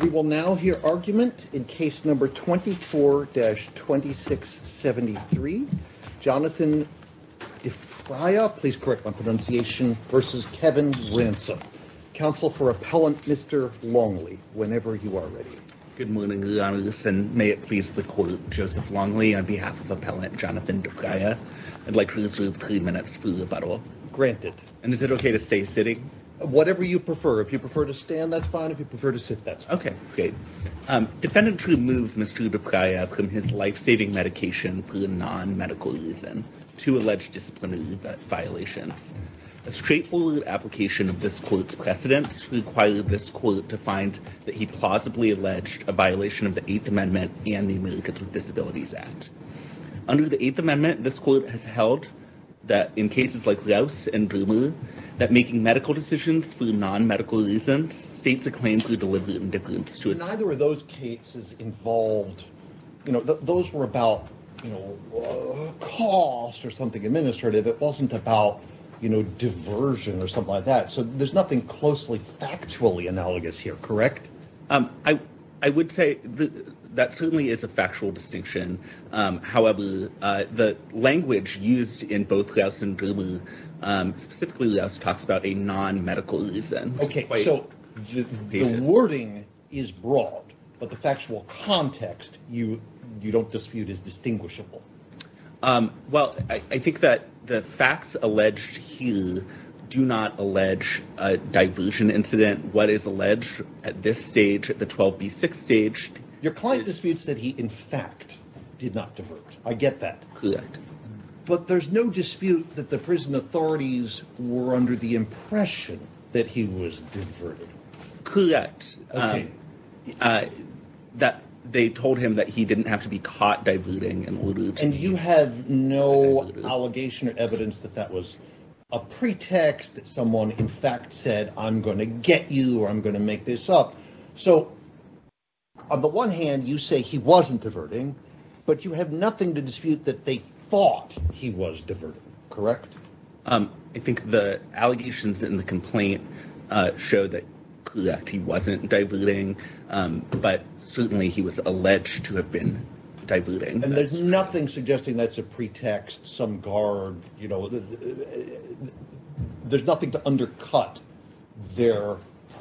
We will now hear argument in case number 24-2673. Jonathan DeFraia, please correct my pronunciation, versus Kevin Ransom. Counsel for appellant Mr. Longley, whenever you are ready. Good morning, Your Honor, and may it please the Court, Joseph Longley on behalf of appellant Jonathan DeFraia, I'd like to reserve three minutes for rebuttal. Granted. And is it okay to stay sitting? Whatever you prefer. If you prefer to stand, that's fine. If you prefer to sit, that's okay. Great. Defendant removed Mr. DeFraia from his life-saving medication for a non-medical reason, two alleged disciplinary violations. A straightforward application of this court's precedents required this court to find that he plausibly alleged a violation of the Eighth Amendment and the Americans with Disabilities Act. Under the Eighth Amendment, this court has held that in cases like Rouse and Bremer, that making medical decisions for non-medical reasons states a claim for deliberate indifference to a... Neither of those cases involved, you know, those were about, you know, cost or something administrative. It wasn't about, you know, diversion or something like that. So there's nothing closely factually analogous here, correct? I would say that certainly is a factual distinction. However, the language used in both Rouse and Bremer, specifically Rouse talks about a non-medical reason. Okay, so the wording is broad, but the factual context you don't dispute is distinguishable. Well, I think that the facts alleged here do not allege a diversion incident. What is alleged at this stage, at the 12B6 stage... Your client disputes that he in fact did not divert. I get that. Correct. But there's no dispute that the prison authorities were under the impression that he was diverted. Correct. That they told him that he didn't have to be caught diverting. And you have no allegation or evidence that that was a pretext that someone in fact said, I'm going to get you or I'm going to make this up. So on the one hand, you say he wasn't diverting, but you have nothing to dispute that they thought he was diverting. Correct. I think the allegations in the complaint show that he wasn't diverting, but certainly he was alleged to have been diverting. And there's nothing suggesting that's a pretext, some guard, you know, there's nothing to undercut their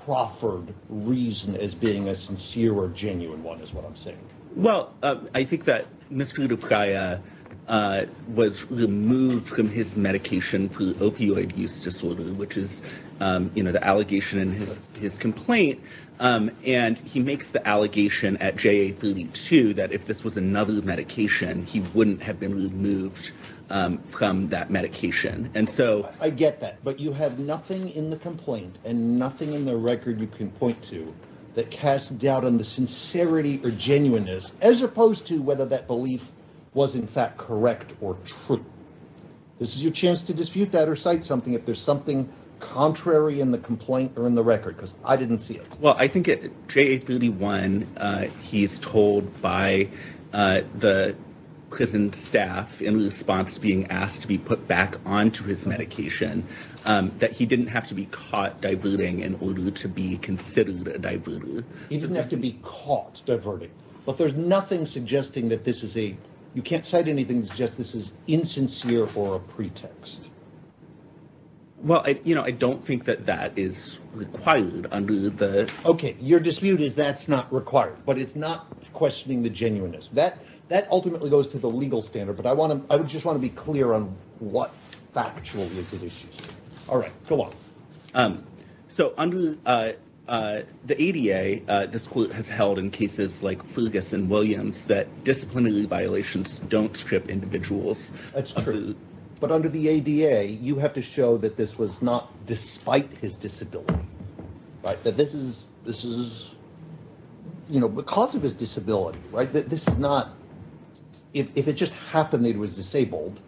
proffered reason as being a sincere or genuine is what I'm saying. Well, I think that Mr. Dupriah was removed from his medication for opioid use disorder, which is the allegation in his complaint. And he makes the allegation at JA32 that if this was another medication, he wouldn't have been removed from that medication. And so... I get that, but you have nothing in the complaint and nothing in the record you can point to that cast doubt on the sincerity or genuineness as opposed to whether that belief was in fact correct or true. This is your chance to dispute that or cite something if there's something contrary in the complaint or in the record, because I didn't see it. Well, I think at JA31, he's told by the prison staff in response to being asked to be put back onto his medication, that he didn't have to be caught diverting in order to be considered a diverter. He didn't have to be caught diverting, but there's nothing suggesting that this is a, you can't cite anything to suggest this is insincere or a pretext. Well, you know, I don't think that that is required under the... Okay, your dispute is that's not required, but it's not questioning the genuineness. That ultimately goes to the legal standard, but I would just want to be clear on what factual is the issue. All right, go on. So under the ADA, this court has held in cases like Fugus and Williams that disciplinary violations don't strip individuals. That's true. But under the ADA, you have to show that this was not despite his disability, right? That this is this is, you know, because of his disability, right? That this is not... If it just happened that he was disabled,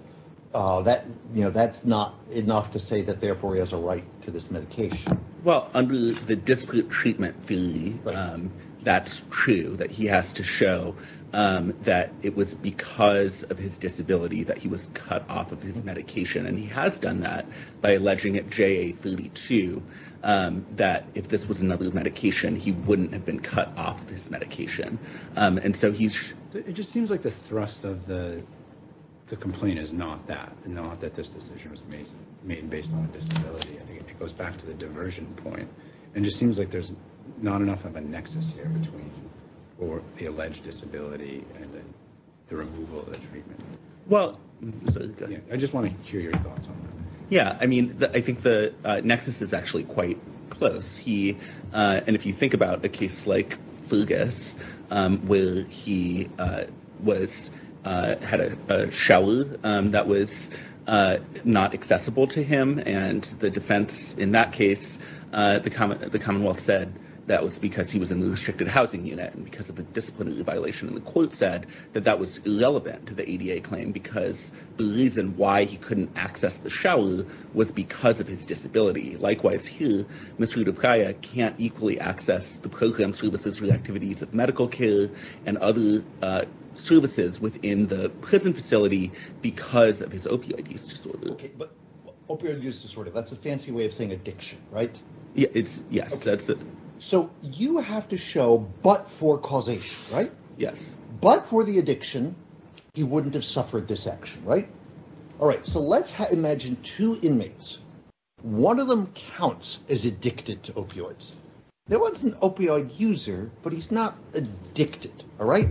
that's not enough to say that therefore he has a right to this medication. Well, under the dispute treatment fee, that's true, that he has to show that it was because of his disability that he was cut off of his medication. And he has done that by alleging at JA32 that if this was another medication, he wouldn't have been cut off of his medication. And so he's... It just seems like the thrust of the complaint is not that, not that this decision was made based on disability. I think it goes back to the diversion point and just seems like there's not enough of a nexus here between or the alleged disability and the removal of the treatment. Well... I just want to hear your thoughts on that. Yeah, I mean, I think the nexus is actually quite close. And if you think about a case like Fergus, where he had a shower that was not accessible to him and the defense in that case, the Commonwealth said that was because he was in the restricted housing unit and because of a disciplinary violation. And the court said that that was irrelevant to the ADA claim because the reason why he couldn't access the shower was because of his disability. Likewise here, Mr. Dupriya can't equally access the program services for the activities of medical care and other services within the prison facility because of his opioid use disorder. Okay, but opioid use disorder, that's a fancy way of saying addiction, right? Yes, that's it. So you have to show, but for causation, right? Yes. But for the addiction, he wouldn't have suffered this action, right? All right, so let's imagine two inmates. One of them counts as addicted to opioids. There was an opioid user, but he's not addicted, all right?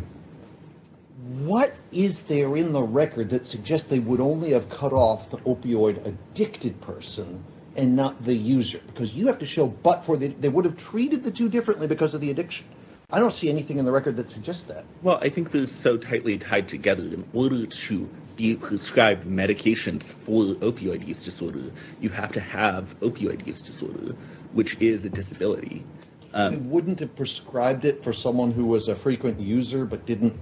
What is there in the record that suggests they would only have cut off the opioid addicted person and not the user? Because you have to show, but for the... they would have treated the two differently because of the addiction. I don't see anything in the record that suggests that. Well, I think there's so tightly tied together. In order to be prescribed medications for opioid use disorder, you have to have opioid use disorder, which is a disability. Wouldn't have prescribed it for someone who was a frequent user, but didn't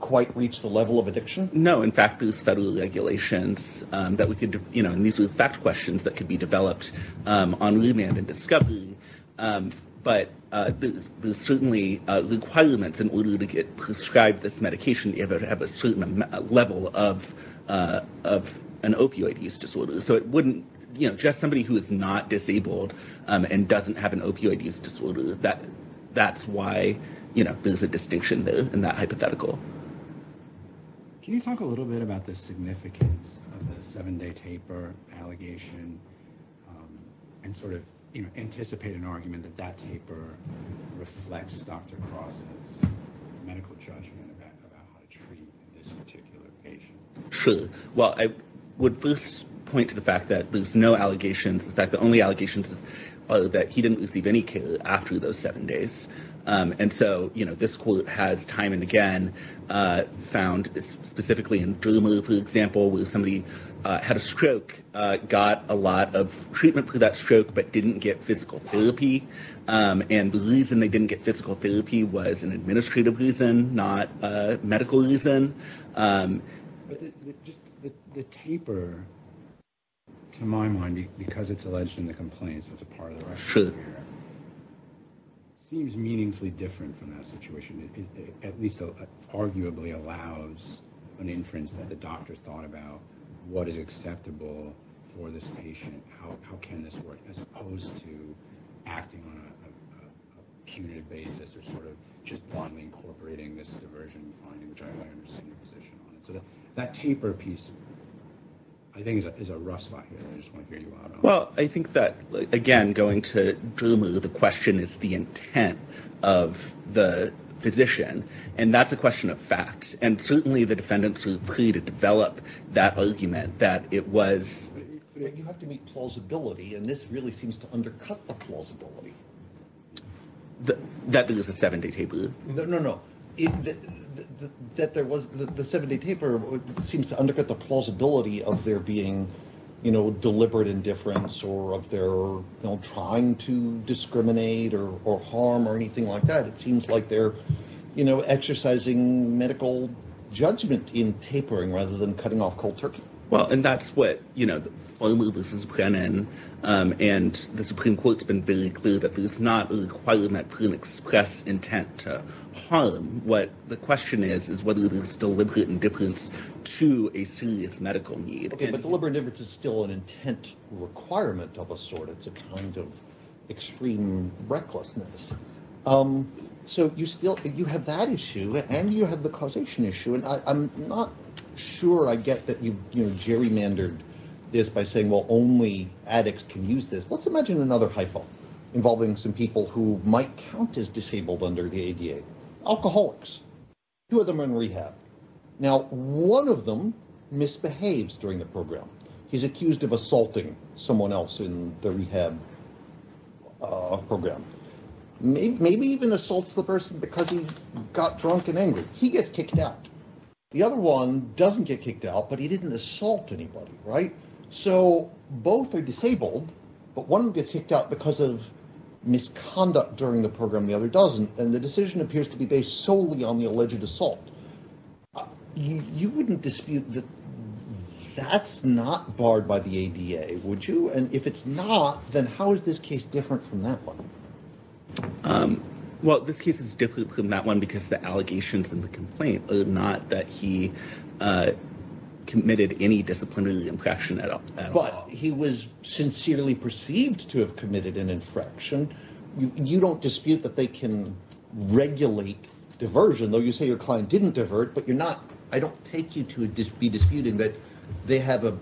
quite reach the level of addiction? No. In fact, there's federal regulations that we could... and these are fact questions that could be developed on remand and discovery. But there's certainly requirements in order to get this medication to have a certain level of an opioid use disorder. So it wouldn't... just somebody who is not disabled and doesn't have an opioid use disorder, that's why there's a distinction there in that hypothetical. Can you talk a little bit about the significance of the seven-day taper allegation and anticipate an argument that that taper reflects Dr. Cross's medical judgment about how to treat this particular patient? Sure. Well, I would first point to the fact that there's no allegations. In fact, the only allegations are that he didn't receive any care after those seven days. And so, this quote has time and again found specifically in Druma, for example, where somebody had a stroke, got a lot of treatment for that stroke, but didn't get physical therapy. And the reason they didn't get physical therapy was an administrative reason, not a medical reason. But just the taper, to my mind, because it's alleged in the complaints, it's a part of the It seems meaningfully different from that situation, at least arguably allows an inference that the doctor thought about what is acceptable for this patient, how can this work, as opposed to acting on a punitive basis or sort of just blindly incorporating this diversion finding, which I understand your position on it. So that taper piece, I think, is a rough spot here. I just want to hear you out on that. Well, I think that, again, going to Druma, the question is the intent of the physician. And that's a question of facts. And certainly, the defendants were free to develop that argument that it was... You have to meet plausibility. And this really seems to undercut the plausibility. That is a seven-day taper. No, no, no. The seven-day taper seems to undercut the plausibility of their being deliberate indifference or of their trying to discriminate or harm or anything like that. It seems like they're exercising medical judgment in tapering rather than cutting off cold turkey. Well, and that's what, you know, Farmer v. Brennan, and the Supreme Court's been very clear that there's not a requirement for an express intent to harm. What the question is, is whether there's deliberate indifference to a serious medical need. OK, but deliberate indifference is still an intent requirement of a sort. It's a kind of extreme recklessness. So you still, you have that issue and you have the causation issue. And I'm not sure I get that you, you know, gerrymandered this by saying, well, only addicts can use this. Let's imagine another hypo involving some people who might count as disabled under the ADA. Alcoholics, two of them in rehab. Now, one of them misbehaves during the program. He's accused of assaulting someone else in the rehab program. Maybe even assaults the person because he got drunk and angry. He gets kicked out. The other one doesn't get kicked out, but he didn't assault anybody, right? So both are disabled. But one gets kicked out because of misconduct during the program. The other doesn't. And the decision appears to be based solely on the alleged assault. You wouldn't dispute that that's not barred by the ADA, would you? And if it's not, then how is this case different from that one? Um, well, this case is different from that one because the allegations and the complaint are not that he committed any disciplinary infraction at all. But he was sincerely perceived to have committed an infraction. You don't dispute that they can regulate diversion, though you say your client didn't divert, but you're not, I don't take you to be disputing that they have a,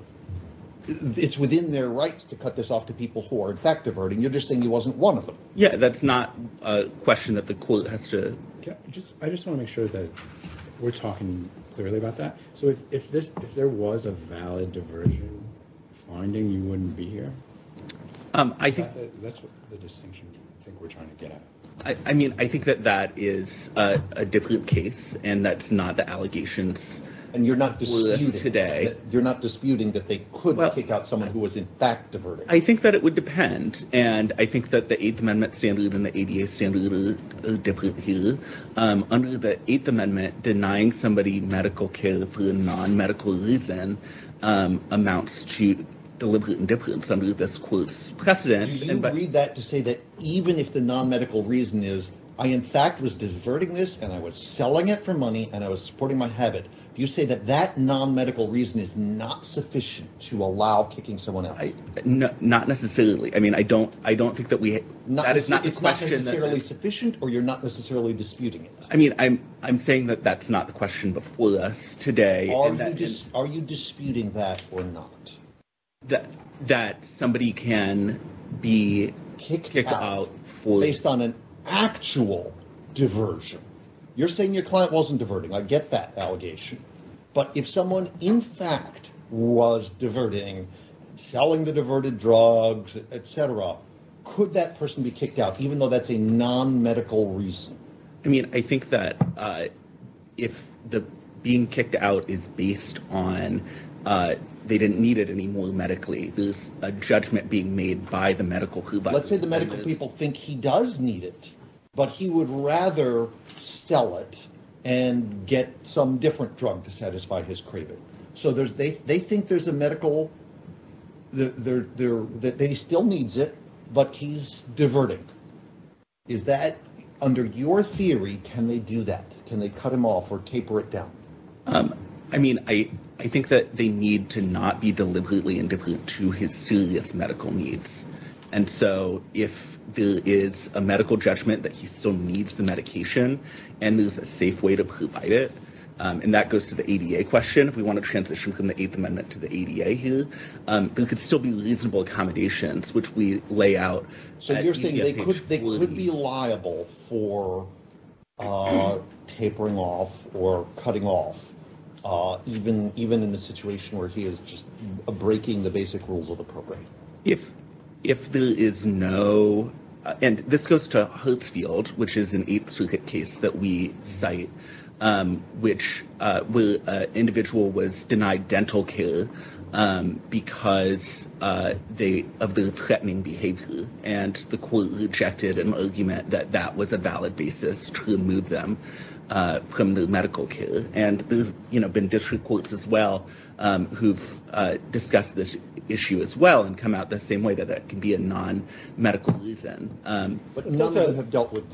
it's within their rights to cut this off to people who are in fact diverting. You're just saying he wasn't one of them. Yeah, that's not a question that the court has to... I just want to make sure that we're talking clearly about that. So if there was a valid diversion finding, you wouldn't be here? I think... That's the distinction I think we're trying to get at. I mean, I think that that is a different case and that's not the allegations. And you're not disputing that they could kick out someone who was in fact diverting. I think that it would depend. And I think that the Eighth Amendment standard and the ADA standard are different here. Under the Eighth Amendment, denying somebody medical care for a non-medical reason amounts to deliberate indifference under this court's precedent. Do you agree that to say that even if the non-medical reason is, I in fact was diverting this and I was selling it for money and I was supporting my habit, do you say that that non-medical reason is not sufficient to allow kicking someone out? Not necessarily. I mean, I don't think that we... It's not necessarily sufficient or you're not necessarily disputing it? I mean, I'm saying that that's not the question before us today. Are you disputing that or not? That somebody can be kicked out for... Based on an actual diversion. You're saying your client wasn't diverting. I get that allegation. But if someone in fact was diverting, selling the diverted drugs, et cetera, could that person be kicked out even though that's a non-medical reason? I mean, I think that if the being kicked out is based on they didn't need it anymore medically, there's a judgment being made by the medical group. Let's say the medical people think he does need it, but he would rather sell it and get some different drug to satisfy his craving. So they think there's a medical... He still needs it, but he's diverting. Under your theory, can they do that? Can they cut him off or taper it down? I mean, I think that they need to not be deliberately indifferent to his serious medical needs. And so if there is a medical judgment that he still needs the medication and there's a safe way to provide it, and that goes to the ADA question, if we want to transition from the Eighth Amendment to the ADA here, there could still be reasonable accommodations, which we lay out. So you're saying they could be liable for tapering off or cutting off even in a situation where he is just breaking the basic rules of the program? If there is no... And this goes to Hertzfield, which is an Eighth Circuit case that we cite, which an individual was denied dental care because of their threatening behavior. And the court rejected an argument that that was a valid basis to remove them from their medical care. And there's been district courts as well who've discussed this issue as well and come out the same way that that can be a non-medical reason. But none of them have dealt with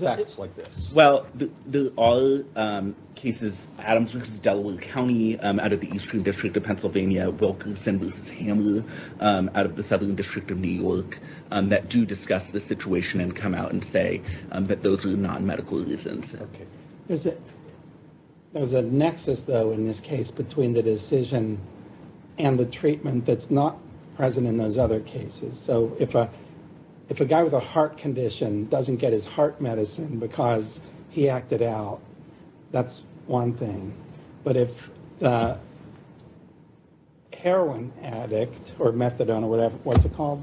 facts like this. Well, there are cases, Adams vs. Delaware County, out of the Eastern District of Pennsylvania, Wilkerson vs. Hammer, out of the Southern District of New York, that do discuss the situation and come out and say that those are non-medical reasons. Okay. There's a nexus, though, in this case between the decision and the treatment that's not present in those other cases. So if a guy with a heart condition doesn't get his heart medicine because he acted out, that's one thing. But if the heroin addict or methadone or whatever, what's it called?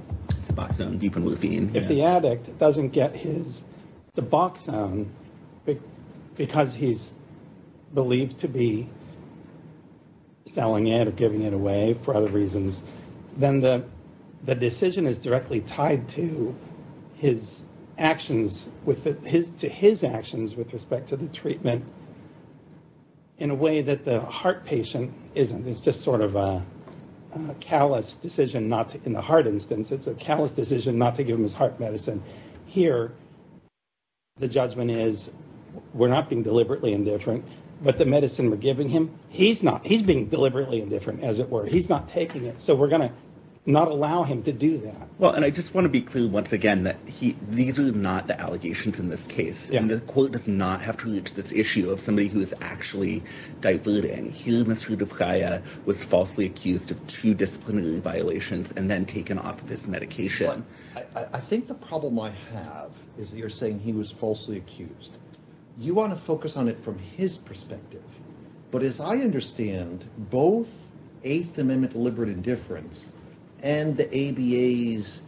Suboxone, buprenorphine. If the addict doesn't get his suboxone because he's believed to be selling it or giving it away for other reasons, then the decision is directly tied to his actions with respect to the treatment in a way that the heart patient isn't. It's just sort of a callous decision not to, in the heart instance, it's a callous decision not to give him his heart medicine. Here, the judgment is we're not being deliberately indifferent, but the medicine we're giving him, he's being deliberately indifferent, as it were. He's not taking it. So we're going to not allow him to do that. Well, and I just want to be clear, once again, that these are not the allegations in this case. And the court does not have to reach this issue of somebody who is actually diverting. Here, Mr. Duvkaya was falsely accused of two disciplinary violations and then taken off of his medication. Well, I think the problem I have is you're saying he was falsely accused. You want to focus on it from his perspective. But as I understand, both Eighth Amendment deliberate indifference and the ABAs,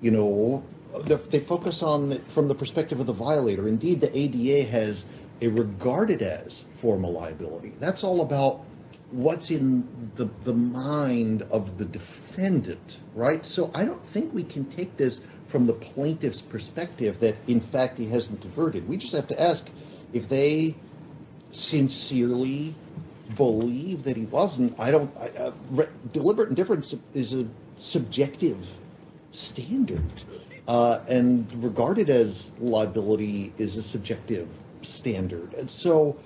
you know, they focus on from the perspective of the violator. Indeed, the ADA has a regarded as formal liability. That's all about what's in the mind of the defendant, right? So I don't think we can take this from the plaintiff's perspective that, in fact, he hasn't diverted. We just have to ask if they sincerely believe that he wasn't. Deliberate indifference is a subjective standard and regarded as liability is a subjective standard. And so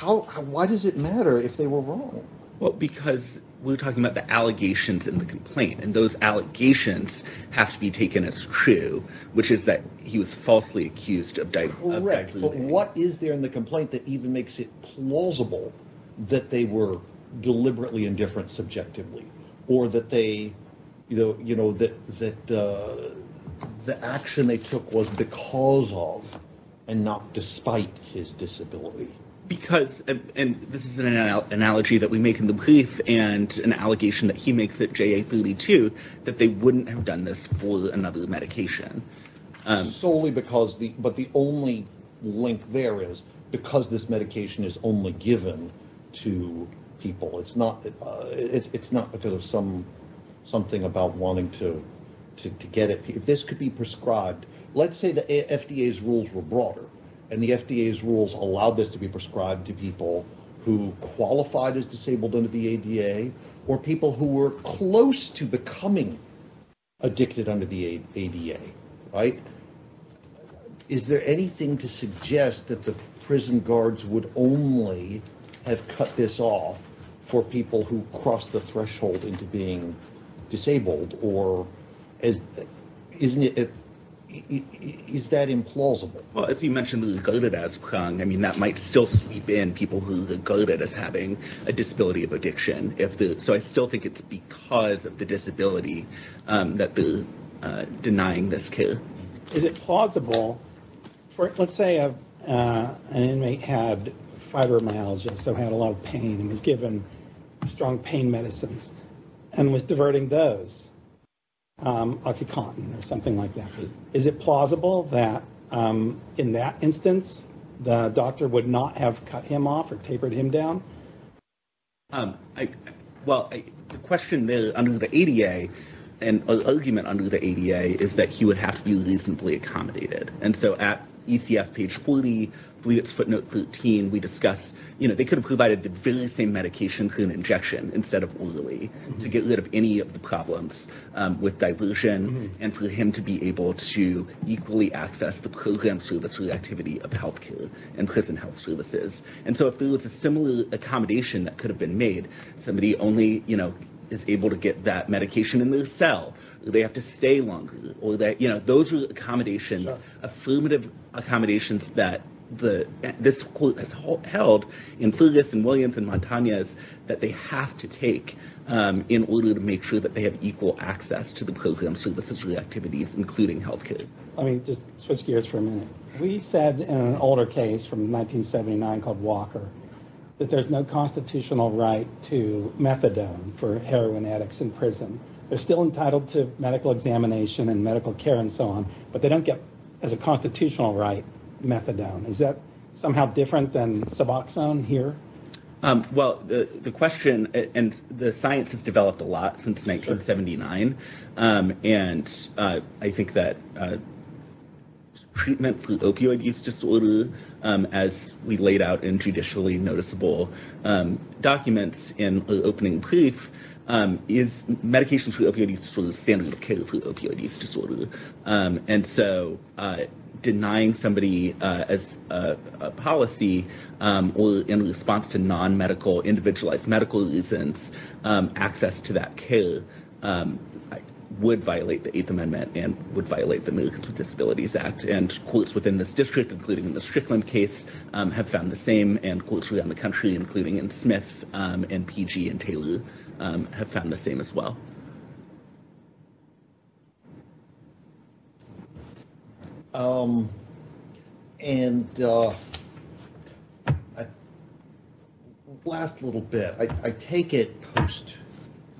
why does it matter if they were wrong? Well, because we're talking about the allegations in the complaint, and those allegations have to be taken as true, which is that he was falsely accused of direct. What is there in the complaint that even makes it plausible that they were deliberately indifferent subjectively or that they, you know, you know, that that the action they took was because of and not despite his disability? Because and this is an analogy that we make in the brief and an allegation that he makes at JA 32 that they wouldn't have done this for another medication solely because the but the only link there is because this medication is only given to people. It's not it's not because of some something about wanting to get it. If this could be prescribed, let's say the FDA's rules were broader and the FDA's rules allowed this to be prescribed to people who qualified as disabled under the ADA or people who were close to becoming addicted under the ADA, right? Is there anything to suggest that the prison guards would only have cut this off for people who cross the threshold into being disabled or as isn't it? Is that implausible? Well, as you mentioned, regarded as I mean, that might still be in people who regarded as having a disability of addiction. If so, I still think it's because of the disability that they're denying this care. Is it plausible for let's say an inmate had fibromyalgia, so had a lot of pain and was given strong pain medicines and was diverting those Oxycontin or something like that. Is it plausible that in that instance, the doctor would not have cut him off or tapered him down? Well, the question there under the ADA and argument under the ADA is that he would have to be reasonably accommodated. And so at ECF page 40, I believe it's footnote 13, we discuss, you know, they could have provided the very same medication for an injection instead of orally to get rid of any of the problems with diversion and for him to be able to equally access the program service reactivity of healthcare and prison health services. And so if there was a similar accommodation that could have been made, somebody only, you know, is able to get that medication in their cell. They have to stay longer or that, you know, those are the accommodations, affirmative accommodations that this court has held in Flugis and Williams and Montañez that they have to take in order to make sure that they have equal access to the program services reactivities, including healthcare. Let me just switch gears for a minute. We said in an older case from 1979 called Walker, that there's no constitutional right to methadone for heroin addicts in prison. They're still entitled to medical examination and medical care and so on, but they don't get as a constitutional right methadone. Is that somehow different than Suboxone here? Well, the question and the science has developed a lot since 1979. And I think that treatment for opioid use disorder, as we laid out in judicially noticeable documents in the opening brief, is medication for opioid use disorder standard of care for opioid use disorder. And so denying somebody as a policy or in response to non-medical, individualized medical reasons, access to that care would violate the 8th Amendment and would violate the Americans with Disabilities Act. And courts within this district, including in the Strickland case, have found the same and courts around the country, including in Smith and PG and Taylor, have found the same as well. And last little bit, I take it post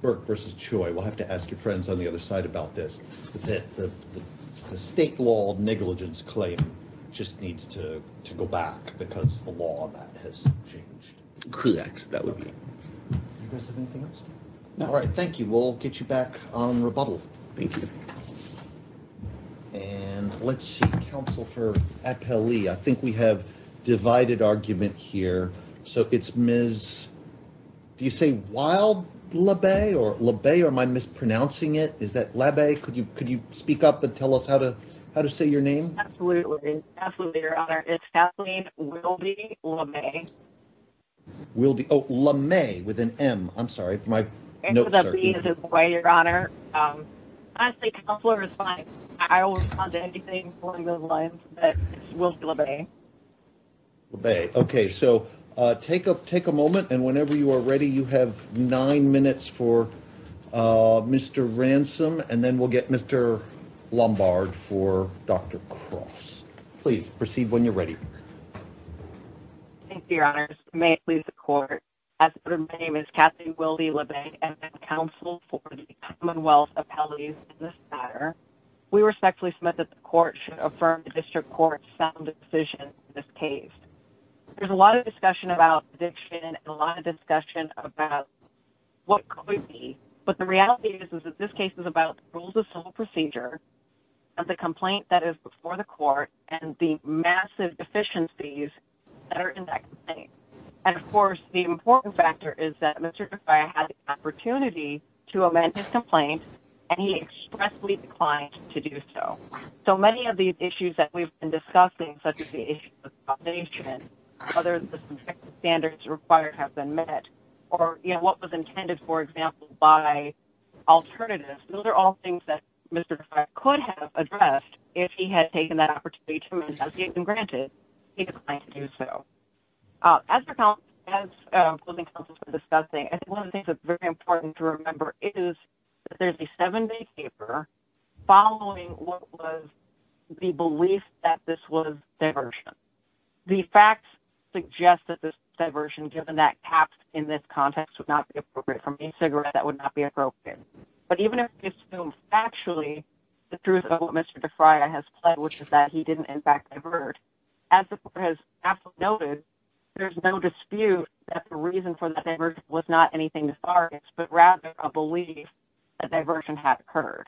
Burke versus Choi, we'll have to ask your friends on the other side about this, that the state law of negligence claim just needs to go back because the law that has changed. Correct, that would be correct. You guys have anything else? No. All right. Thank you. We'll get you back on rebuttal. Thank you. And let's see. Counsel for Appellee. I think we have divided argument here. So it's Ms., do you say Wild Labay or Labay? Or am I mispronouncing it? Is that Labay? Could you speak up and tell us how to say your name? Absolutely, Your Honor. It's Kathleen Wilde Labay. Wilde, oh, Labay with an M. I'm sorry for my notes. Your Honor, I think counselor is fine. I will respond to anything along those lines. So take a moment and whenever you are ready, you have nine minutes for Mr. Ransom and then we'll get Mr. Lombard for Dr. Cross. Please proceed when you're ready. Thank you, Your Honor. May it please the court. As her name is Kathleen Wilde Labay, and I'm counsel for the Commonwealth Appellees in this matter, we respectfully submit that the court should affirm the district court's sound decision in this case. There's a lot of discussion about addiction and a lot of discussion about what could be. But the reality is that this case is about rules of civil procedure and the complaint that is before the court and the massive deficiencies that are in that complaint. And of course, the important factor is that Mr. Defia had the opportunity to amend his complaint and he expressly declined to do so. So many of the issues that we've been discussing, such as the issue of combination, whether the standards required have been met or what was intended, for example, by alternatives, those are all things that Mr. Defia could have addressed if he had taken that opportunity to amend his complaint and granted, he declined to do so. As we're counseling for discussing, I think one of the things that's very important to remember is that there's a seven-day paper following what was the belief that this was diversion. The facts suggest that this diversion, given that caps in this context would not be appropriate from a cigarette, that would not be appropriate. But even if we assume factually, the truth of what Mr. Defia has pled, which is that he didn't in fact divert, as the court has absolutely noted, there's no dispute that the reason for the diversion was not anything to start with, but rather a belief that diversion had occurred.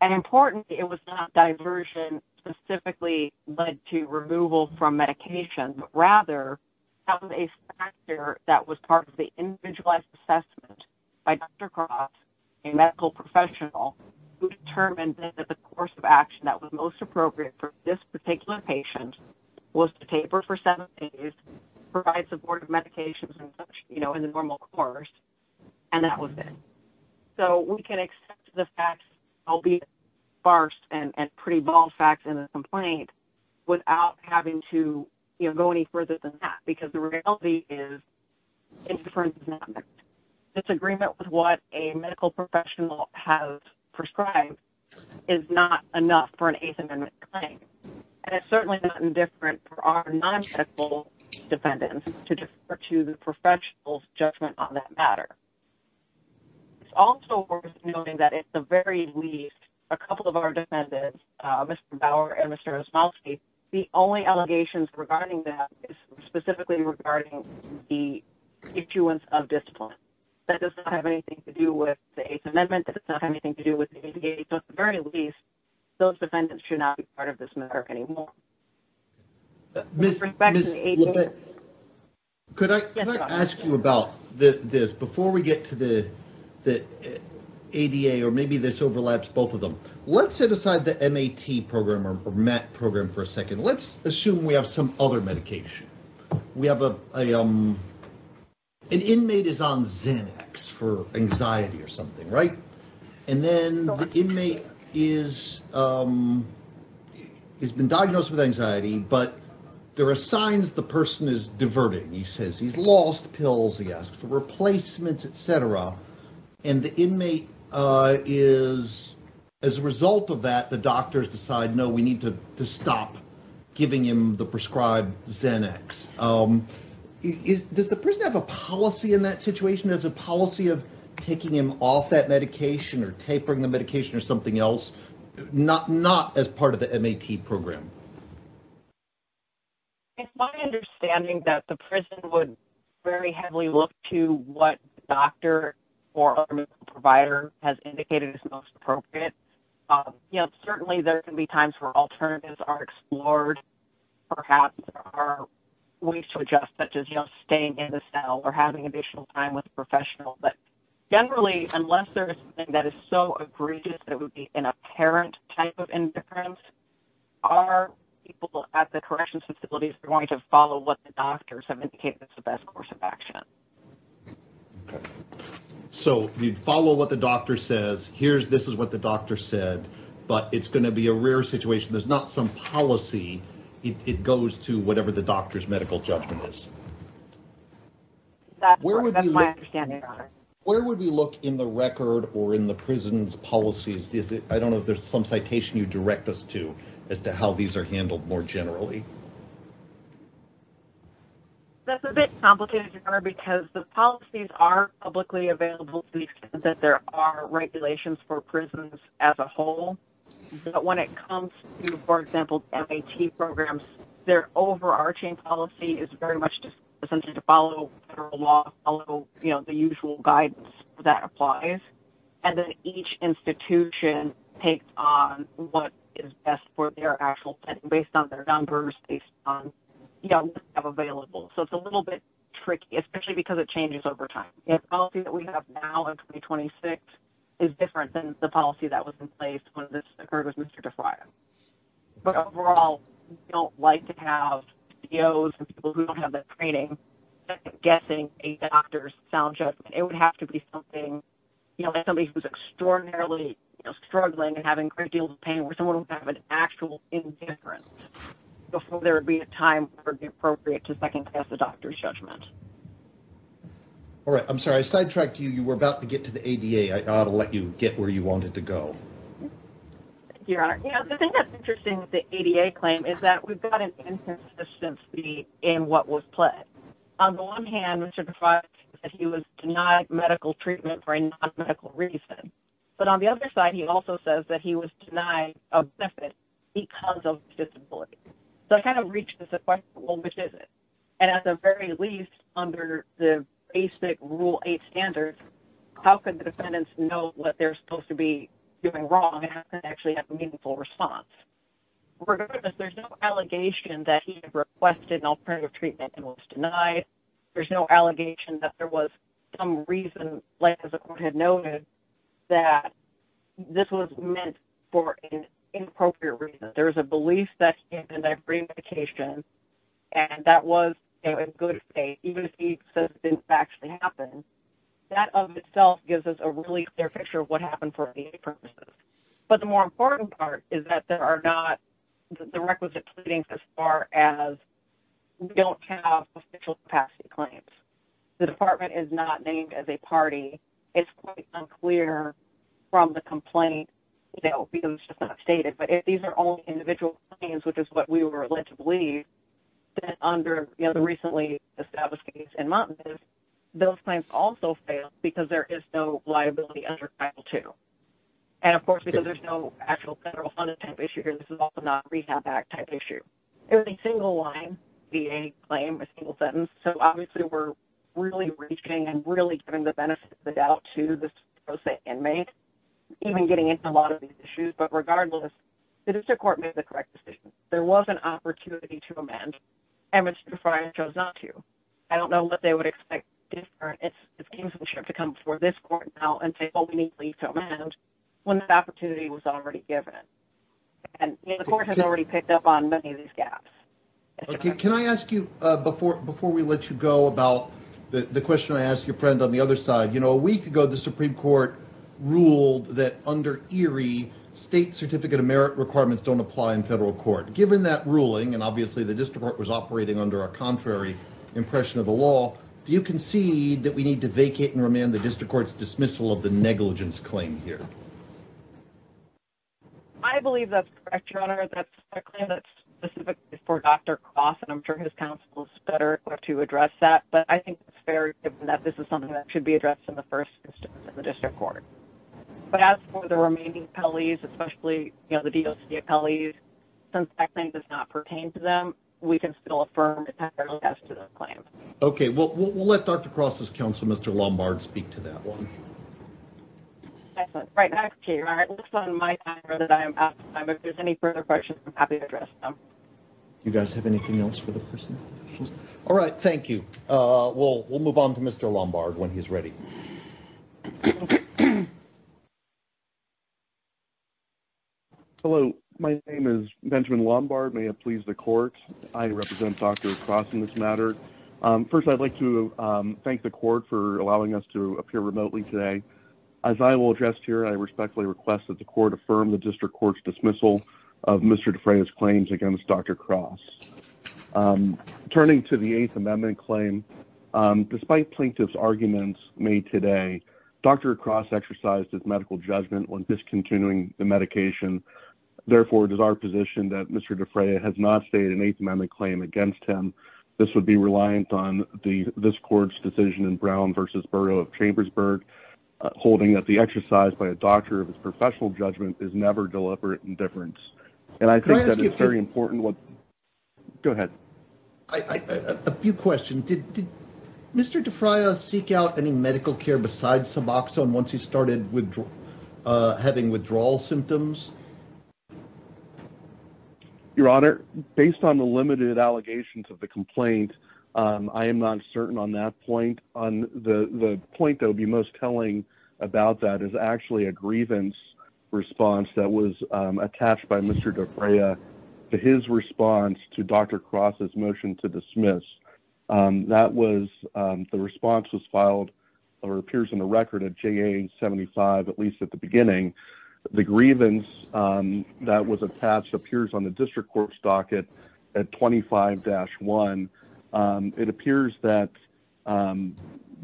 And importantly, it was not diversion specifically led to removal from medication, but rather that was a factor that was part of the individualized assessment by Dr. Croft, a medical professional, who determined that the course of action that was most appropriate for this particular patient was to taper for seven days, provide supportive medications and such, you know, in the normal course, and that was it. So we can accept the facts, albeit sparse and pretty bald facts in the complaint, without having to, you know, go any further than that, because the reality is, it's agreement with what a medical professional has prescribed is not enough for an Eighth Amendment claim. And it's certainly not indifferent for our non-technical defendants to defer to the professional's judgment on that matter. It's also worth noting that at the very least, a couple of our defendants, Mr. Bauer and Mr. Osmowski, the only allegations regarding that is specifically regarding the issuance of discipline. That does not have anything to do with the Eighth Amendment, that does not have anything to do with the ADA. So at the very least, those defendants should not be part of this network anymore. With respect to the ADA- Ms. LeBette, could I ask you about this? Before we get to the ADA, or maybe this overlaps both of them, let's set aside the MAT program for a second. Let's assume we have some other medication. We have an inmate is on Xanax for anxiety or something, right? And then the inmate has been diagnosed with anxiety, but there are signs the person is diverting. He says he's lost pills. He asked for replacements, etc. And the inmate is, as a result of that, the doctors decide, no, we need to stop giving him the prescribed Xanax. Does the person have a policy in that situation? Does the policy of taking him off that medication or tapering the medication or something else, not as part of the MAT program? It's my understanding that the prison would very heavily look to what doctor or other medical provider has indicated is most appropriate. Certainly, there can be times where alternatives are explored. Perhaps there are ways to adjust, such as staying in the cell or having additional time with a professional. But generally, unless there is something that is so egregious, that would be an apparent type of indifference, our people at the corrections facility is going to follow what the doctors have indicated is the best course of action. So you'd follow what the doctor says. Here's, this is what the doctor said, but it's going to be a rare situation. There's not some policy. It goes to whatever the doctor's medical judgment is. That's my understanding. Where would we look in the record or in the prison's policies? I don't know if there's some citation you direct us to as to how these are handled more generally. That's a bit complicated, your honor, because the policies are publicly available to the extent that there are regulations for prisons as a whole. But when it comes to, for example, MAT programs, their overarching policy is very much just essentially to follow federal law, follow the usual guidance that applies. And then each institution takes on what is best for their actual setting based on their numbers, based on what they have available. So it's a little bit tricky, especially because it changes over time. The policy that we have now in 2026 is different than the policy that was in place when this occurred with Mr. DeFrayo. But overall, we don't like to have DOs and people who don't have the training guessing a doctor's sound judgment. It would have to be something, like somebody who's extraordinarily struggling and having great deals of pain where someone would have an actual indifference before there would be a time where it would be appropriate to second-guess the doctor's judgment. All right, I'm sorry, I sidetracked you. You were about to get to the ADA. I ought to let you get where you wanted to go. Thank you, your honor. The thing that's interesting with the ADA claim is that we've got an inconsistency in what was pledged. On the one hand, Mr. DeFrayo said he was denied medical treatment for a non-medical reason. But on the other side, he also says that he was denied a benefit because of his disability. So it kind of reaches the question, well, which is it? And at the very least, under the basic Rule 8 standards, how could the defendants know what they're supposed to be doing wrong and actually have a meaningful response? Regardless, there's no allegation that he requested an alternative treatment and was denied. There's no allegation that there was some reason, like as the court had noted, that this was meant for an inappropriate reason. There was a belief that he had been on free medication and that was in good faith, even if he says it didn't actually happen. That of itself gives us a really clear picture of what happened for ADA purposes. But the more important part is that there are not the requisite pleadings as far as we don't have potential capacity claims. The department is not named as a party. It's quite unclear from the complaint that would be those just not stated. But if these are only individual claims, which is what we were led to believe, then under the recently established case in Montana, those claims also fail because there is no liability under Title 2. And of course, because there's no actual federal funded type issue here, this is also not a Rehab Act type issue. It was a single line VA claim, a single sentence. So obviously we're really reaching and really giving the benefit of the doubt to this pro se inmate, even getting into a lot of these issues. But regardless, the district court made the correct decision. There was an opportunity to amend and Mr. Fryer chose not to. I don't know what they would expect this counselorship to come before this court now and say, well, we need to leave to amend when that opportunity was already given. And the court has already picked up on many of these gaps. Okay. Can I ask you before we let you go about the question I asked your friend on the other side? You know, a week ago, the Supreme Court ruled that under ERIE, state certificate of merit requirements don't apply in federal court. Given that ruling, and obviously the district court was operating under a contrary impression of the law, do you concede that we need to vacate and remand the district court's dismissal of the negligence claim here? I believe that's correct, your honor. That's a claim that's specifically for Dr. Cross and I'm sure his counsel is better equipped to address that. But I think it's fair given that this is something that should be addressed in the first instance in the district court. But as for the remaining appellees, especially, you know, the DOC appellees, since that claim does not pertain to them, we can still affirm it as to the claim. Okay, well, we'll let Dr. Cross's counsel, Mr. Lombard, speak to that one. Excellent, right back to you, your honor. It looks on my timer that I am out of time. If there's any further questions, I'm happy to address them. You guys have anything else for the person? All right, thank you. We'll move on to Mr. Lombard when he's ready. Hello, my name is Benjamin Lombard. May it please the court? I represent Dr. Cross in this matter. First, I'd like to thank the court for allowing us to appear remotely today. As I will address here, I respectfully request that the court affirm the district court's dismissal of Mr. DeFraya's claims against Dr. Cross. Turning to the Eighth Amendment claim, despite plaintiff's arguments made today, Dr. Cross exercised his medical judgment when discontinuing the medication. Therefore, it is our position that Mr. DeFraya has not stated an Eighth Amendment claim against him. This would be reliant on this court's decision in Brown v. Borough of Chambersburg, holding that the exercise by a doctor of his professional judgment is never deliberate indifference. And I think that is very important. Go ahead. A few questions. Did Mr. DeFraya seek out any medical care besides Suboxone once he started having withdrawal symptoms? Your Honor, based on the limited allegations of the complaint, I am not certain on that point. On the point that would be most telling about that is actually a grievance response that was attached by Mr. DeFraya to his response to Dr. Cross's motion to dismiss. The response was filed or appears in the record at JA-75, at least at the beginning. The grievance that was attached appears on the district court's docket at 25-1. It appears that Mr.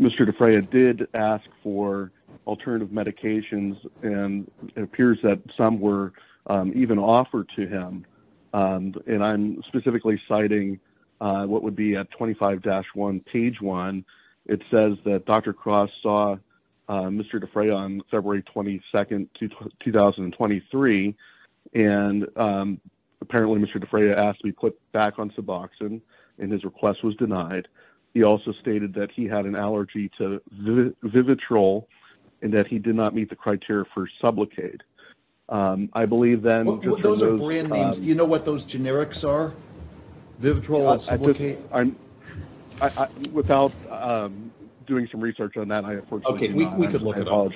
DeFraya did ask for alternative medications and it appears that some were even offered to him. And I'm specifically citing what would be at 25-1, page one. It says that Dr. Cross saw Mr. DeFraya on February 22nd, 2023. And apparently Mr. DeFraya asked to be put back on Suboxone. And his request was denied. He also stated that he had an allergy to Vivitrol and that he did not meet the criteria for sublocate. I believe then- Those are brand names. You know what those generics are? Vivitrol and sublocate? Without doing some research on that, I unfortunately do not. We could look it up.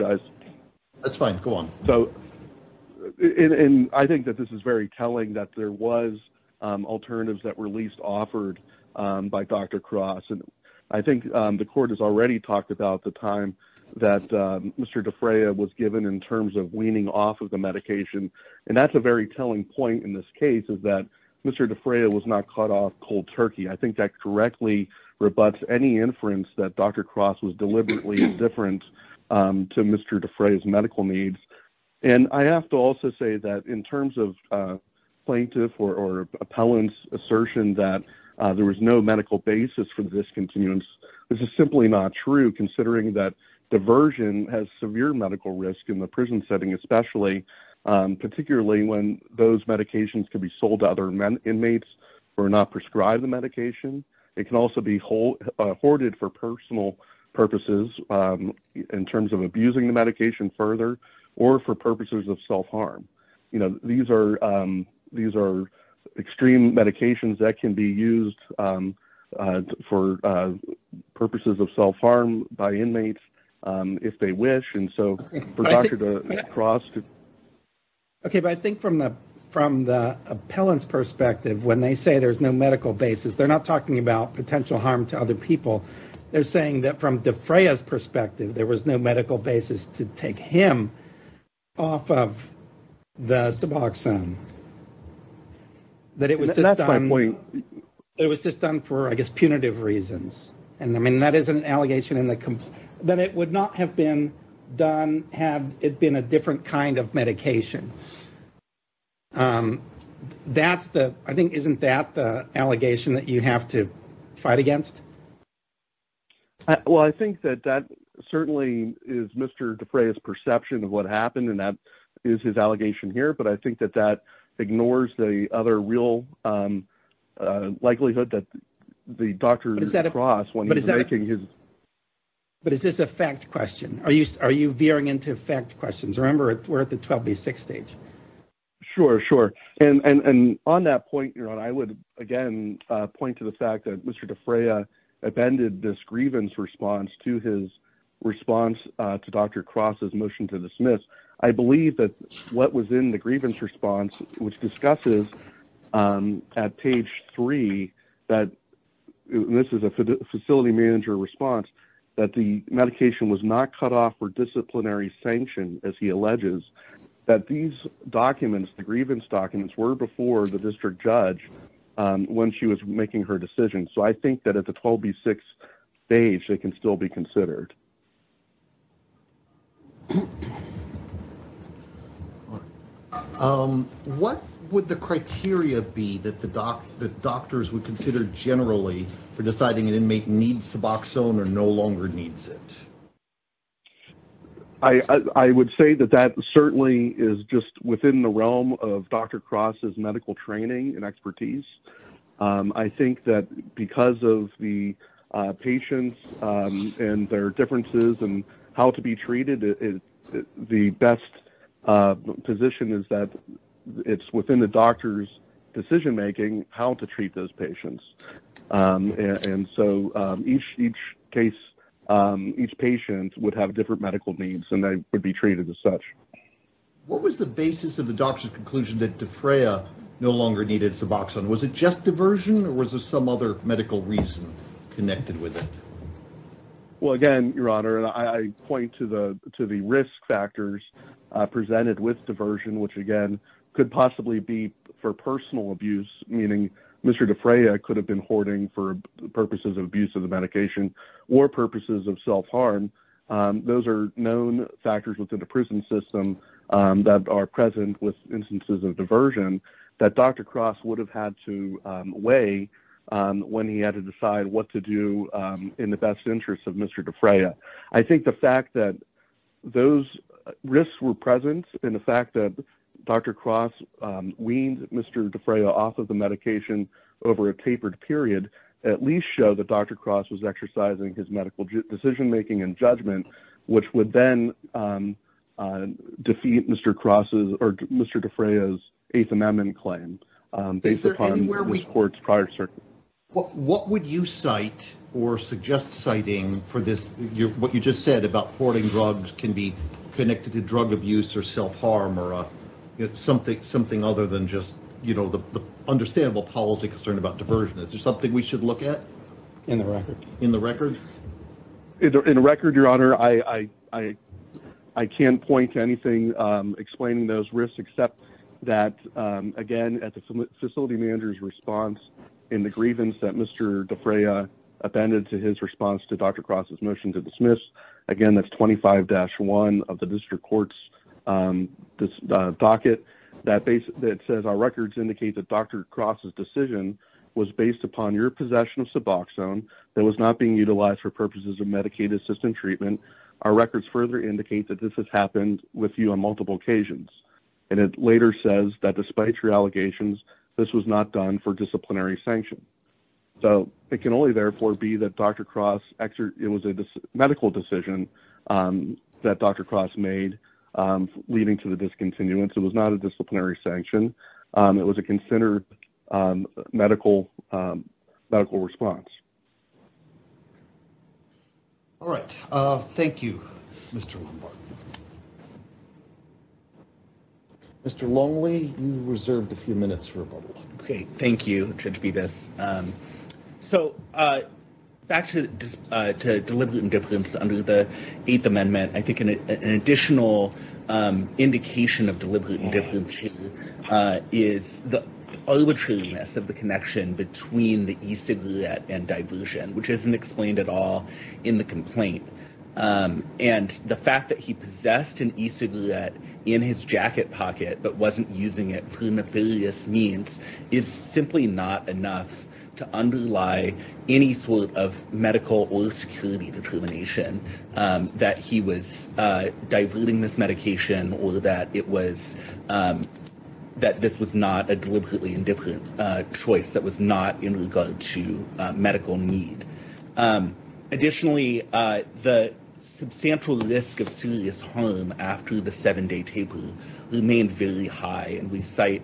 That's fine, go on. And I think that this is very telling that there was alternatives that were at least offered by Dr. Cross. And I think the court has already talked about the time that Mr. DeFraya was given in terms of weaning off of the medication. And that's a very telling point in this case is that Mr. DeFraya was not cut off cold turkey. I think that correctly rebuts any inference that Dr. Cross was deliberately indifferent to Mr. DeFraya's medical needs. And I have to also say that in terms of plaintiff or appellant's assertion that there was no medical basis for this continuance, this is simply not true considering that diversion has severe medical risk in the prison setting especially, particularly when those medications can be sold to other inmates or not prescribe the medication. It can also be hoarded for personal purposes in terms of abusing the medication further or for purposes of self-harm. You know, these are extreme medications that can be used for purposes of self-harm by inmates if they wish. And so for Dr. Cross to... Okay, but I think from the appellant's perspective, when they say there's no medical basis, they're not talking about potential harm to other people. They're saying that from DeFraya's perspective, there was no medical basis to take him off the Suboxone. That it was just done for, I guess, punitive reasons. And I mean, that is an allegation in the... That it would not have been done had it been a different kind of medication. I think, isn't that the allegation that you have to fight against? Well, I think that that certainly is Mr. DeFraya's perception of what happened and that is his allegation here. But I think that that ignores the other real likelihood that the Dr. Cross, when he's making his... But is this a fact question? Are you veering into fact questions? Remember, we're at the 12B6 stage. Sure, sure. And on that point, Ron, I would, again, point to the fact that Mr. DeFraya amended this grievance response to his response to Dr. Cross's motion to dismiss. I believe that what was in the grievance response, which discusses at page three, that this is a facility manager response, that the medication was not cut off for disciplinary sanction, as he alleges, that these documents, the grievance documents, were before the district judge when she was making her decision. So I think that at the 12B6 stage, they can still be considered. All right. What would the criteria be that the doctors would consider generally for deciding an inmate needs Suboxone or no longer needs it? I would say that that certainly is just within the realm of Dr. Cross's medical training and expertise. I think that because of the patients and their differences and how to be treated, the best position is that it's within the doctor's decision-making how to treat those patients. And so each case, each patient would have different medical needs and they would be treated as such. What was the basis of the doctor's conclusion that DeFraya no longer needed Suboxone? Was it just diversion or was there some other medical reason connected with it? Well, again, Your Honor, I point to the risk factors presented with diversion, which again could possibly be for personal abuse, meaning Mr. DeFraya could have been hoarding for purposes of abuse of the medication or purposes of self-harm. Those are known factors within the prison system that are present with instances of diversion that Dr. Cross would have had to weigh when he had to decide what to do in the best interest of Mr. DeFraya. I think the fact that those risks were present and the fact that Dr. Cross weaned Mr. DeFraya off of the medication over a tapered period at least show that Dr. Cross was exercising his medical decision-making and judgment, which would then defeat Mr. Cross's or Mr. DeFraya's Eighth Amendment claim based upon his court's prior circuit. What would you cite or suggest citing for this, what you just said about hoarding drugs can be connected to drug abuse or self-harm or something other than just, you know, the understandable policy concern about diversion. Is there something we should look at? In the record. In the record? In the record, Your Honor, I can't point to anything explaining those risks, except that, again, at the facility manager's response in the grievance that Mr. DeFraya appended to his response to Dr. Cross's motion to dismiss, again, that's 25-1 of the district court's docket that says, our records indicate that Dr. Cross's decision was based upon your possession of Suboxone that was not being utilized for purposes of Medicaid-assisted treatment. Our records further indicate that this has happened with you on multiple occasions. And it later says that despite your allegations, this was not done for disciplinary sanction. So it can only, therefore, be that Dr. Cross, it was a medical decision that Dr. Cross made leading to the discontinuance. It was not a disciplinary sanction. It was a considered medical response. All right. Thank you, Mr. Lombard. Mr. Longley, you reserved a few minutes for a bubble. Okay, thank you, Judge Bedes. So back to deliberate indifference under the Eighth Amendment, I think an additional indication of deliberate indifference here is the arbitrariness of the connection between the e-cigarette and diversion, which isn't explained at all in the complaint. And the fact that he possessed an e-cigarette in his jacket pocket, but wasn't using it for nefarious means, is simply not enough to underlie any sort of medical or security determination that he was diverting this medication or that this was not a deliberately indifferent choice that was not in regard to medical need. Additionally, the substantial risk of serious harm after the seven-day taper remained very high. And we cite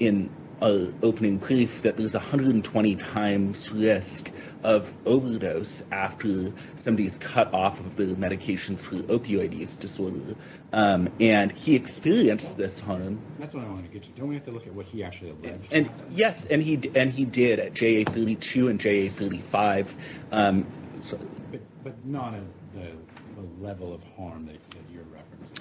in our opening brief that there's 120 times risk of overdose after somebody is cut off of the medication through opioid use disorder. And he experienced this harm. That's what I want to get to. Don't we have to look at what he actually alleged? And yes, and he did at JA-32 and JA-35. But not at the level of harm that you're referencing.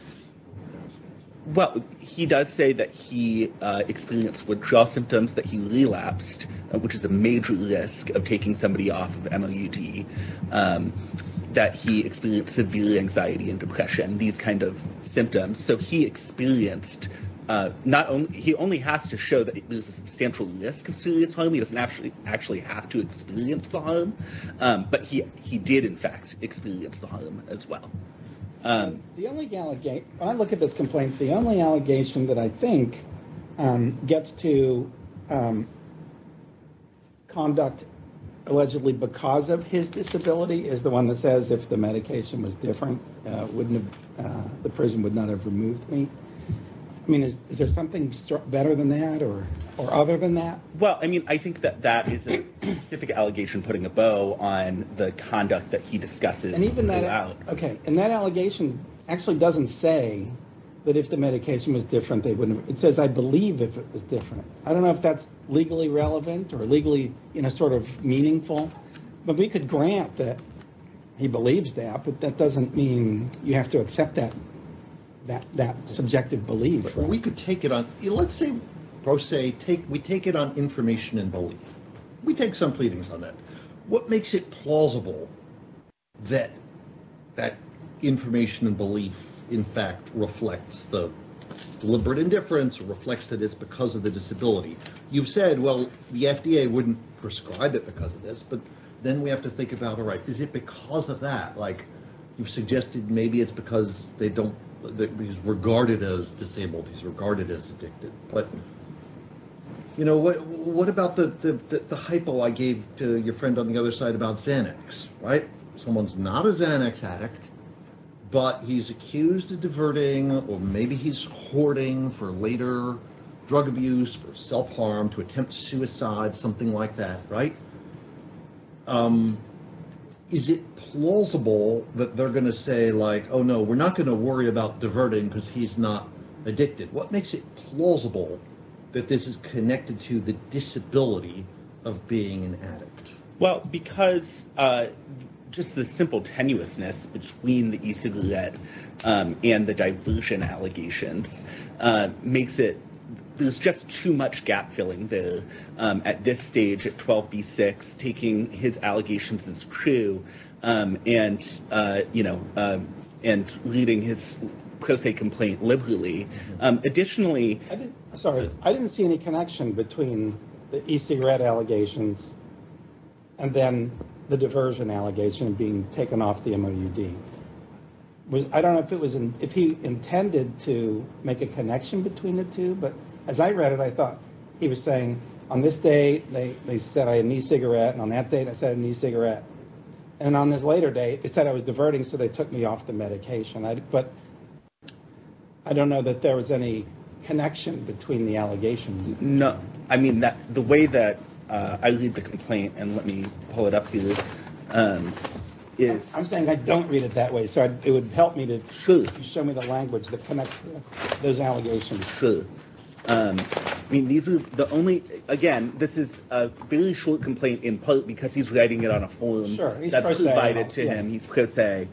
Well, he does say that he experienced withdrawal symptoms, that he relapsed, which is a major risk of taking somebody off of MOUD, that he experienced severe anxiety and depression, these kinds of symptoms. So he experienced, he only has to show that there's a substantial risk of serious harm. He doesn't actually have to experience the harm, but he did, in fact, experience the harm as well. And the only, when I look at this complaint, the only allegation that I think gets to conduct allegedly because of his disability is the one that says, if the medication was different, the prison would not have removed me. I mean, is there something better than that or other than that? Well, I mean, I think that that is a specific allegation putting a bow on the conduct that he discusses. Okay, and that allegation actually doesn't say that if the medication was different, they wouldn't, it says, I believe if it was different. I don't know if that's legally relevant or legally sort of meaningful, but we could grant that he believes that, but that doesn't mean you have to accept that subjective belief. We could take it on. Let's say we take it on information and belief. We take some pleadings on that. What makes it plausible that that information and belief, in fact, reflects the deliberate indifference or reflects that it's because of the disability? You've said, well, the FDA wouldn't prescribe it because of this, but then we have to think about, all right, is it because of that? Like you've suggested, maybe it's because they don't, that is regarded as disabled, is regarded as addicted. But what about the hypo I gave to your friend on the other side about Xanax, right? Someone's not a Xanax addict, but he's accused of diverting, or maybe he's hoarding for later drug abuse, for self-harm, to attempt suicide, something like that, right? Is it plausible that they're gonna say like, oh no, we're not gonna worry about diverting because he's not addicted. What makes it plausible that this is connected to the disability of being an addict? Well, because just the simple tenuousness between the e-cigarette and the diversion allegations makes it, there's just too much gap-filling at this stage at 12B6, taking his allegations as true and leaving his pro se complaint liberally. Additionally- I'm sorry, I didn't see any connection between the e-cigarette allegations and then the diversion allegation being taken off the MOUD. I don't know if he intended to make a connection between the two, but as I read it, I thought he was saying, on this date, they said I had an e-cigarette, and on that date, I said I had an e-cigarette. And on this later date, they said I was diverting, so they took me off the medication. But I don't know that there was any connection between the allegations. I mean, the way that I read the complaint, and let me pull it up here, is- I'm saying I don't read it that way, so it would help me to show me the language that connects those allegations. Sure. I mean, these are the only, again, this is a very short complaint in part because he's writing it on a form that's provided to him. He's pro se.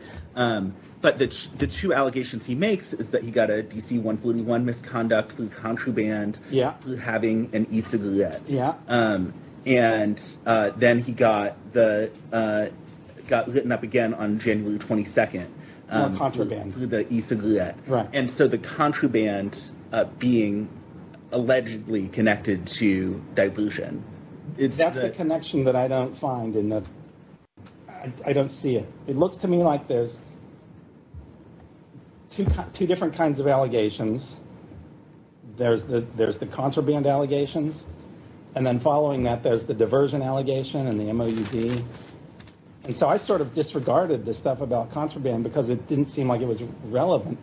But the two allegations he makes is that he got a DC-141 misconduct through contraband Yeah. through having an e-cigarette. Yeah. And then he got the- got lit up again on January 22nd. Through a contraband. Through the e-cigarette. Right. And so the contraband being allegedly connected to diversion, it's- That's the connection that I don't find in the- I don't see it. It looks to me like there's two different kinds of allegations. There's the contraband allegations, and then following that, there's the diversion allegation and the MOUD. And so I sort of disregarded this stuff about contraband because it didn't seem like it was relevant.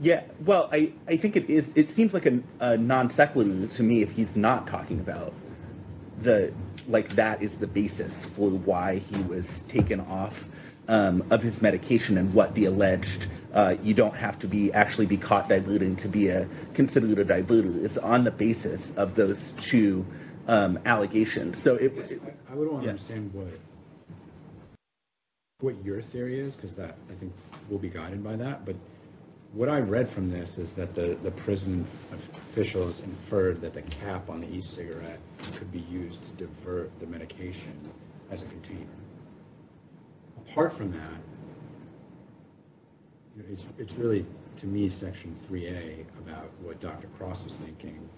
Yeah, well, I think it is- It seems like a non sequitur to me if he's not talking about the- That is the basis for why he was taken off of his medication and what the alleged- You don't have to be actually be caught diluting to be considered a diluter. It's on the basis of those two allegations. So it was- I don't understand what your theory is because that, I think, will be guided by that. But what I read from this is that the prison officials inferred that the cap on the e-cigarette could be used to divert the medication as a container. Apart from that, it's really, to me, Section 3A about what Dr. Cross was thinking.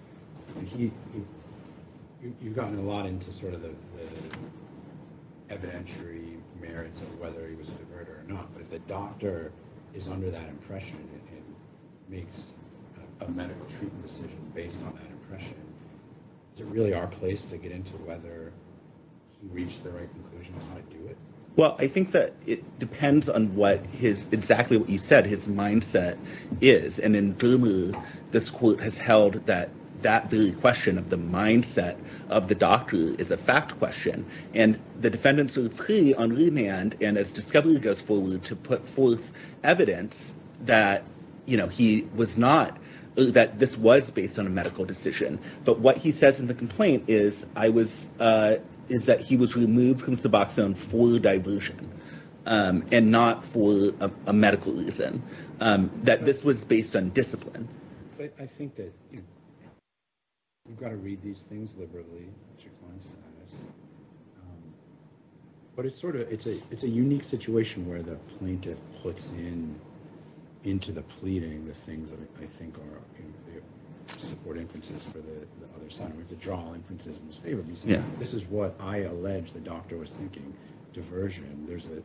I mean, you've gotten a lot into sort of the evidentiary merits of whether he was a diverter or not. But if the doctor is under that impression and makes a medical treatment decision based on that impression, is it really our place to get into whether he reached the right conclusion on how to do it? Well, I think that it depends on what his- exactly what you said, his mindset is. And in Vermeer, this court has held that that very question of the mindset of the doctor is a fact question. And the defendants are pretty unremanned. And as Discovery goes forward to put forth evidence that he was not- that this was based on a medical decision. But what he says in the complaint is that he was removed from Suboxone for diversion. And not for a medical reason. That this was based on discipline. But I think that you've got to read these things liberally. But it's sort of- it's a unique situation where the plaintiff puts in into the pleading the things that I think are support inferences for the other side. And we have to draw inferences in his favor. Because this is what I allege the doctor was thinking. Diversion. There's a-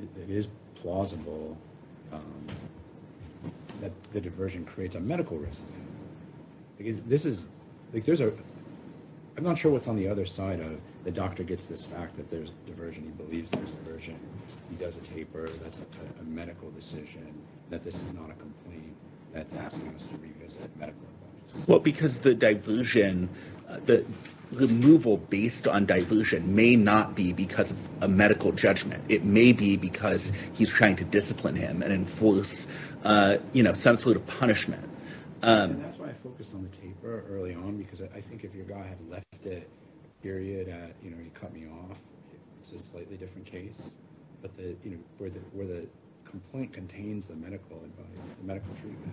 it is plausible that the diversion creates a medical risk. This is- there's a- I'm not sure what's on the other side of the doctor gets this fact that there's diversion. He believes there's diversion. He does a taper. That's a medical decision. That this is not a complaint. That's asking us to revisit medical evidence. Well, because the diversion- the removal based on diversion may not be because of a medical judgment. It may be because he's trying to discipline him and enforce, you know, some sort of punishment. And that's why I focused on the taper early on. Because I think if your guy had left it, period, at, you know, he cut me off. It's a slightly different case. But the- you know, where the complaint contains the medical advice, the medical treatment.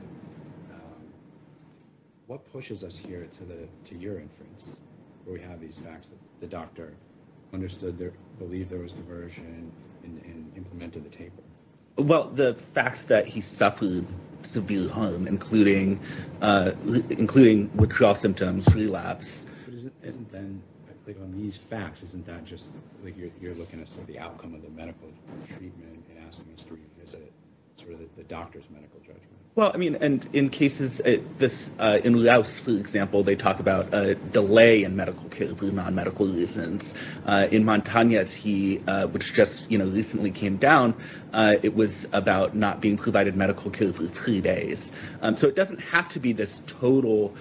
What pushes us here to the- to your inference? Where we have these facts that the doctor understood there- believed there was diversion and implemented the taper. Well, the fact that he suffered severe harm, including withdrawal symptoms, relapse. Isn't then, like, on these facts, isn't that just, like, you're looking at the outcome of the medical treatment and asking us to revisit sort of the doctor's medical judgment? Well, I mean, and in cases this- in Rouse, for example, they talk about a delay in medical care for non-medical reasons. In Montagne's, he- which just, you know, recently came down, it was about not being provided medical care for three days. So it doesn't have to be this total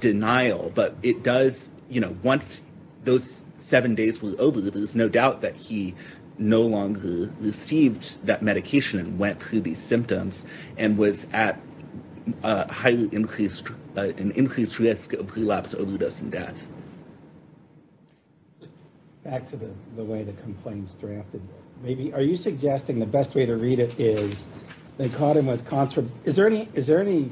denial. But it does, you know, once those seven days were over, there's no doubt that he no longer received that medication and went through these symptoms and was at a highly increased- an increased risk of relapse, overdose, and death. Back to the way the complaint's drafted. Maybe- are you suggesting the best way to read it is they caught him with contra- is there any- is there any-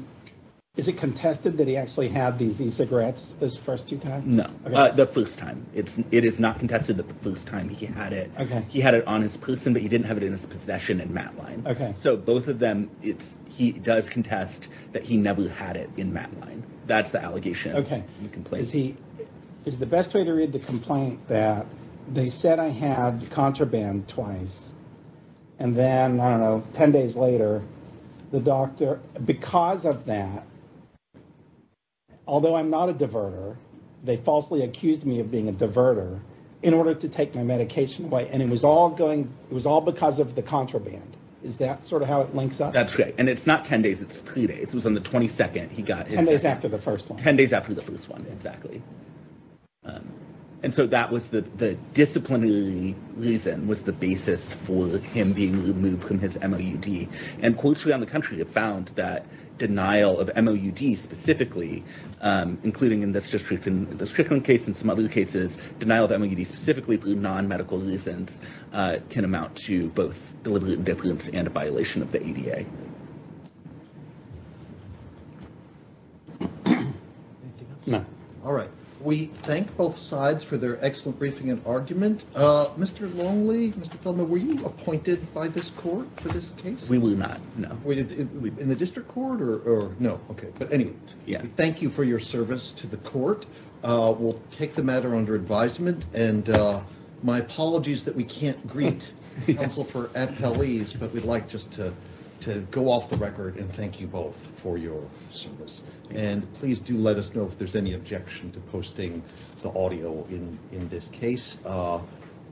is it contested that he actually had these e-cigarettes those first two times? No, the first time. It's- it is not contested that the first time he had it. Okay. He had it on his person, but he didn't have it in his possession in MATLINE. Okay. So both of them, it's- he does contest that he never had it in MATLINE. That's the allegation of the complaint. Is the best way to read the complaint that they said I had contraband twice and then, I don't know, 10 days later, the doctor- because of that, although I'm not a diverter, they falsely accused me of being a diverter in order to take my medication away and it was all going- it was all because of the contraband. Is that sort of how it links up? That's right. And it's not 10 days, it's three days. It was on the 22nd he got his- 10 days after the first one. 10 days after the first one, exactly. And so that was the- the disciplinary reason was the basis for him being removed from his MOUD and courts around the country have found that denial of MOUD specifically, including in this district in the Strickland case and some other cases, denial of MOUD specifically through non-medical reasons can amount to both deliberate indifference and a violation of the ADA. Anything else? No. All right. We thank both sides for their excellent briefing and argument. Mr. Longley, Mr. Feldman, were you appointed by this court for this case? We were not, no. Were you in the district court or no? Okay, but anyway. Yeah. Thank you for your service to the court. We'll take the matter under advisement and my apologies that we can't greet counsel for appellees, but we'd like just to go off the record and thank you both for your service. And please do let us know if there's any objection to posting the audio in this case.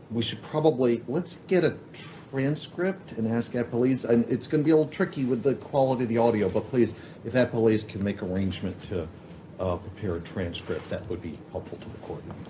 We should probably, let's get a transcript and ask appellees. It's going to be a little tricky with the quality of the audio, but please, if appellees can make arrangement to prepare a transcript, that would be helpful to the court.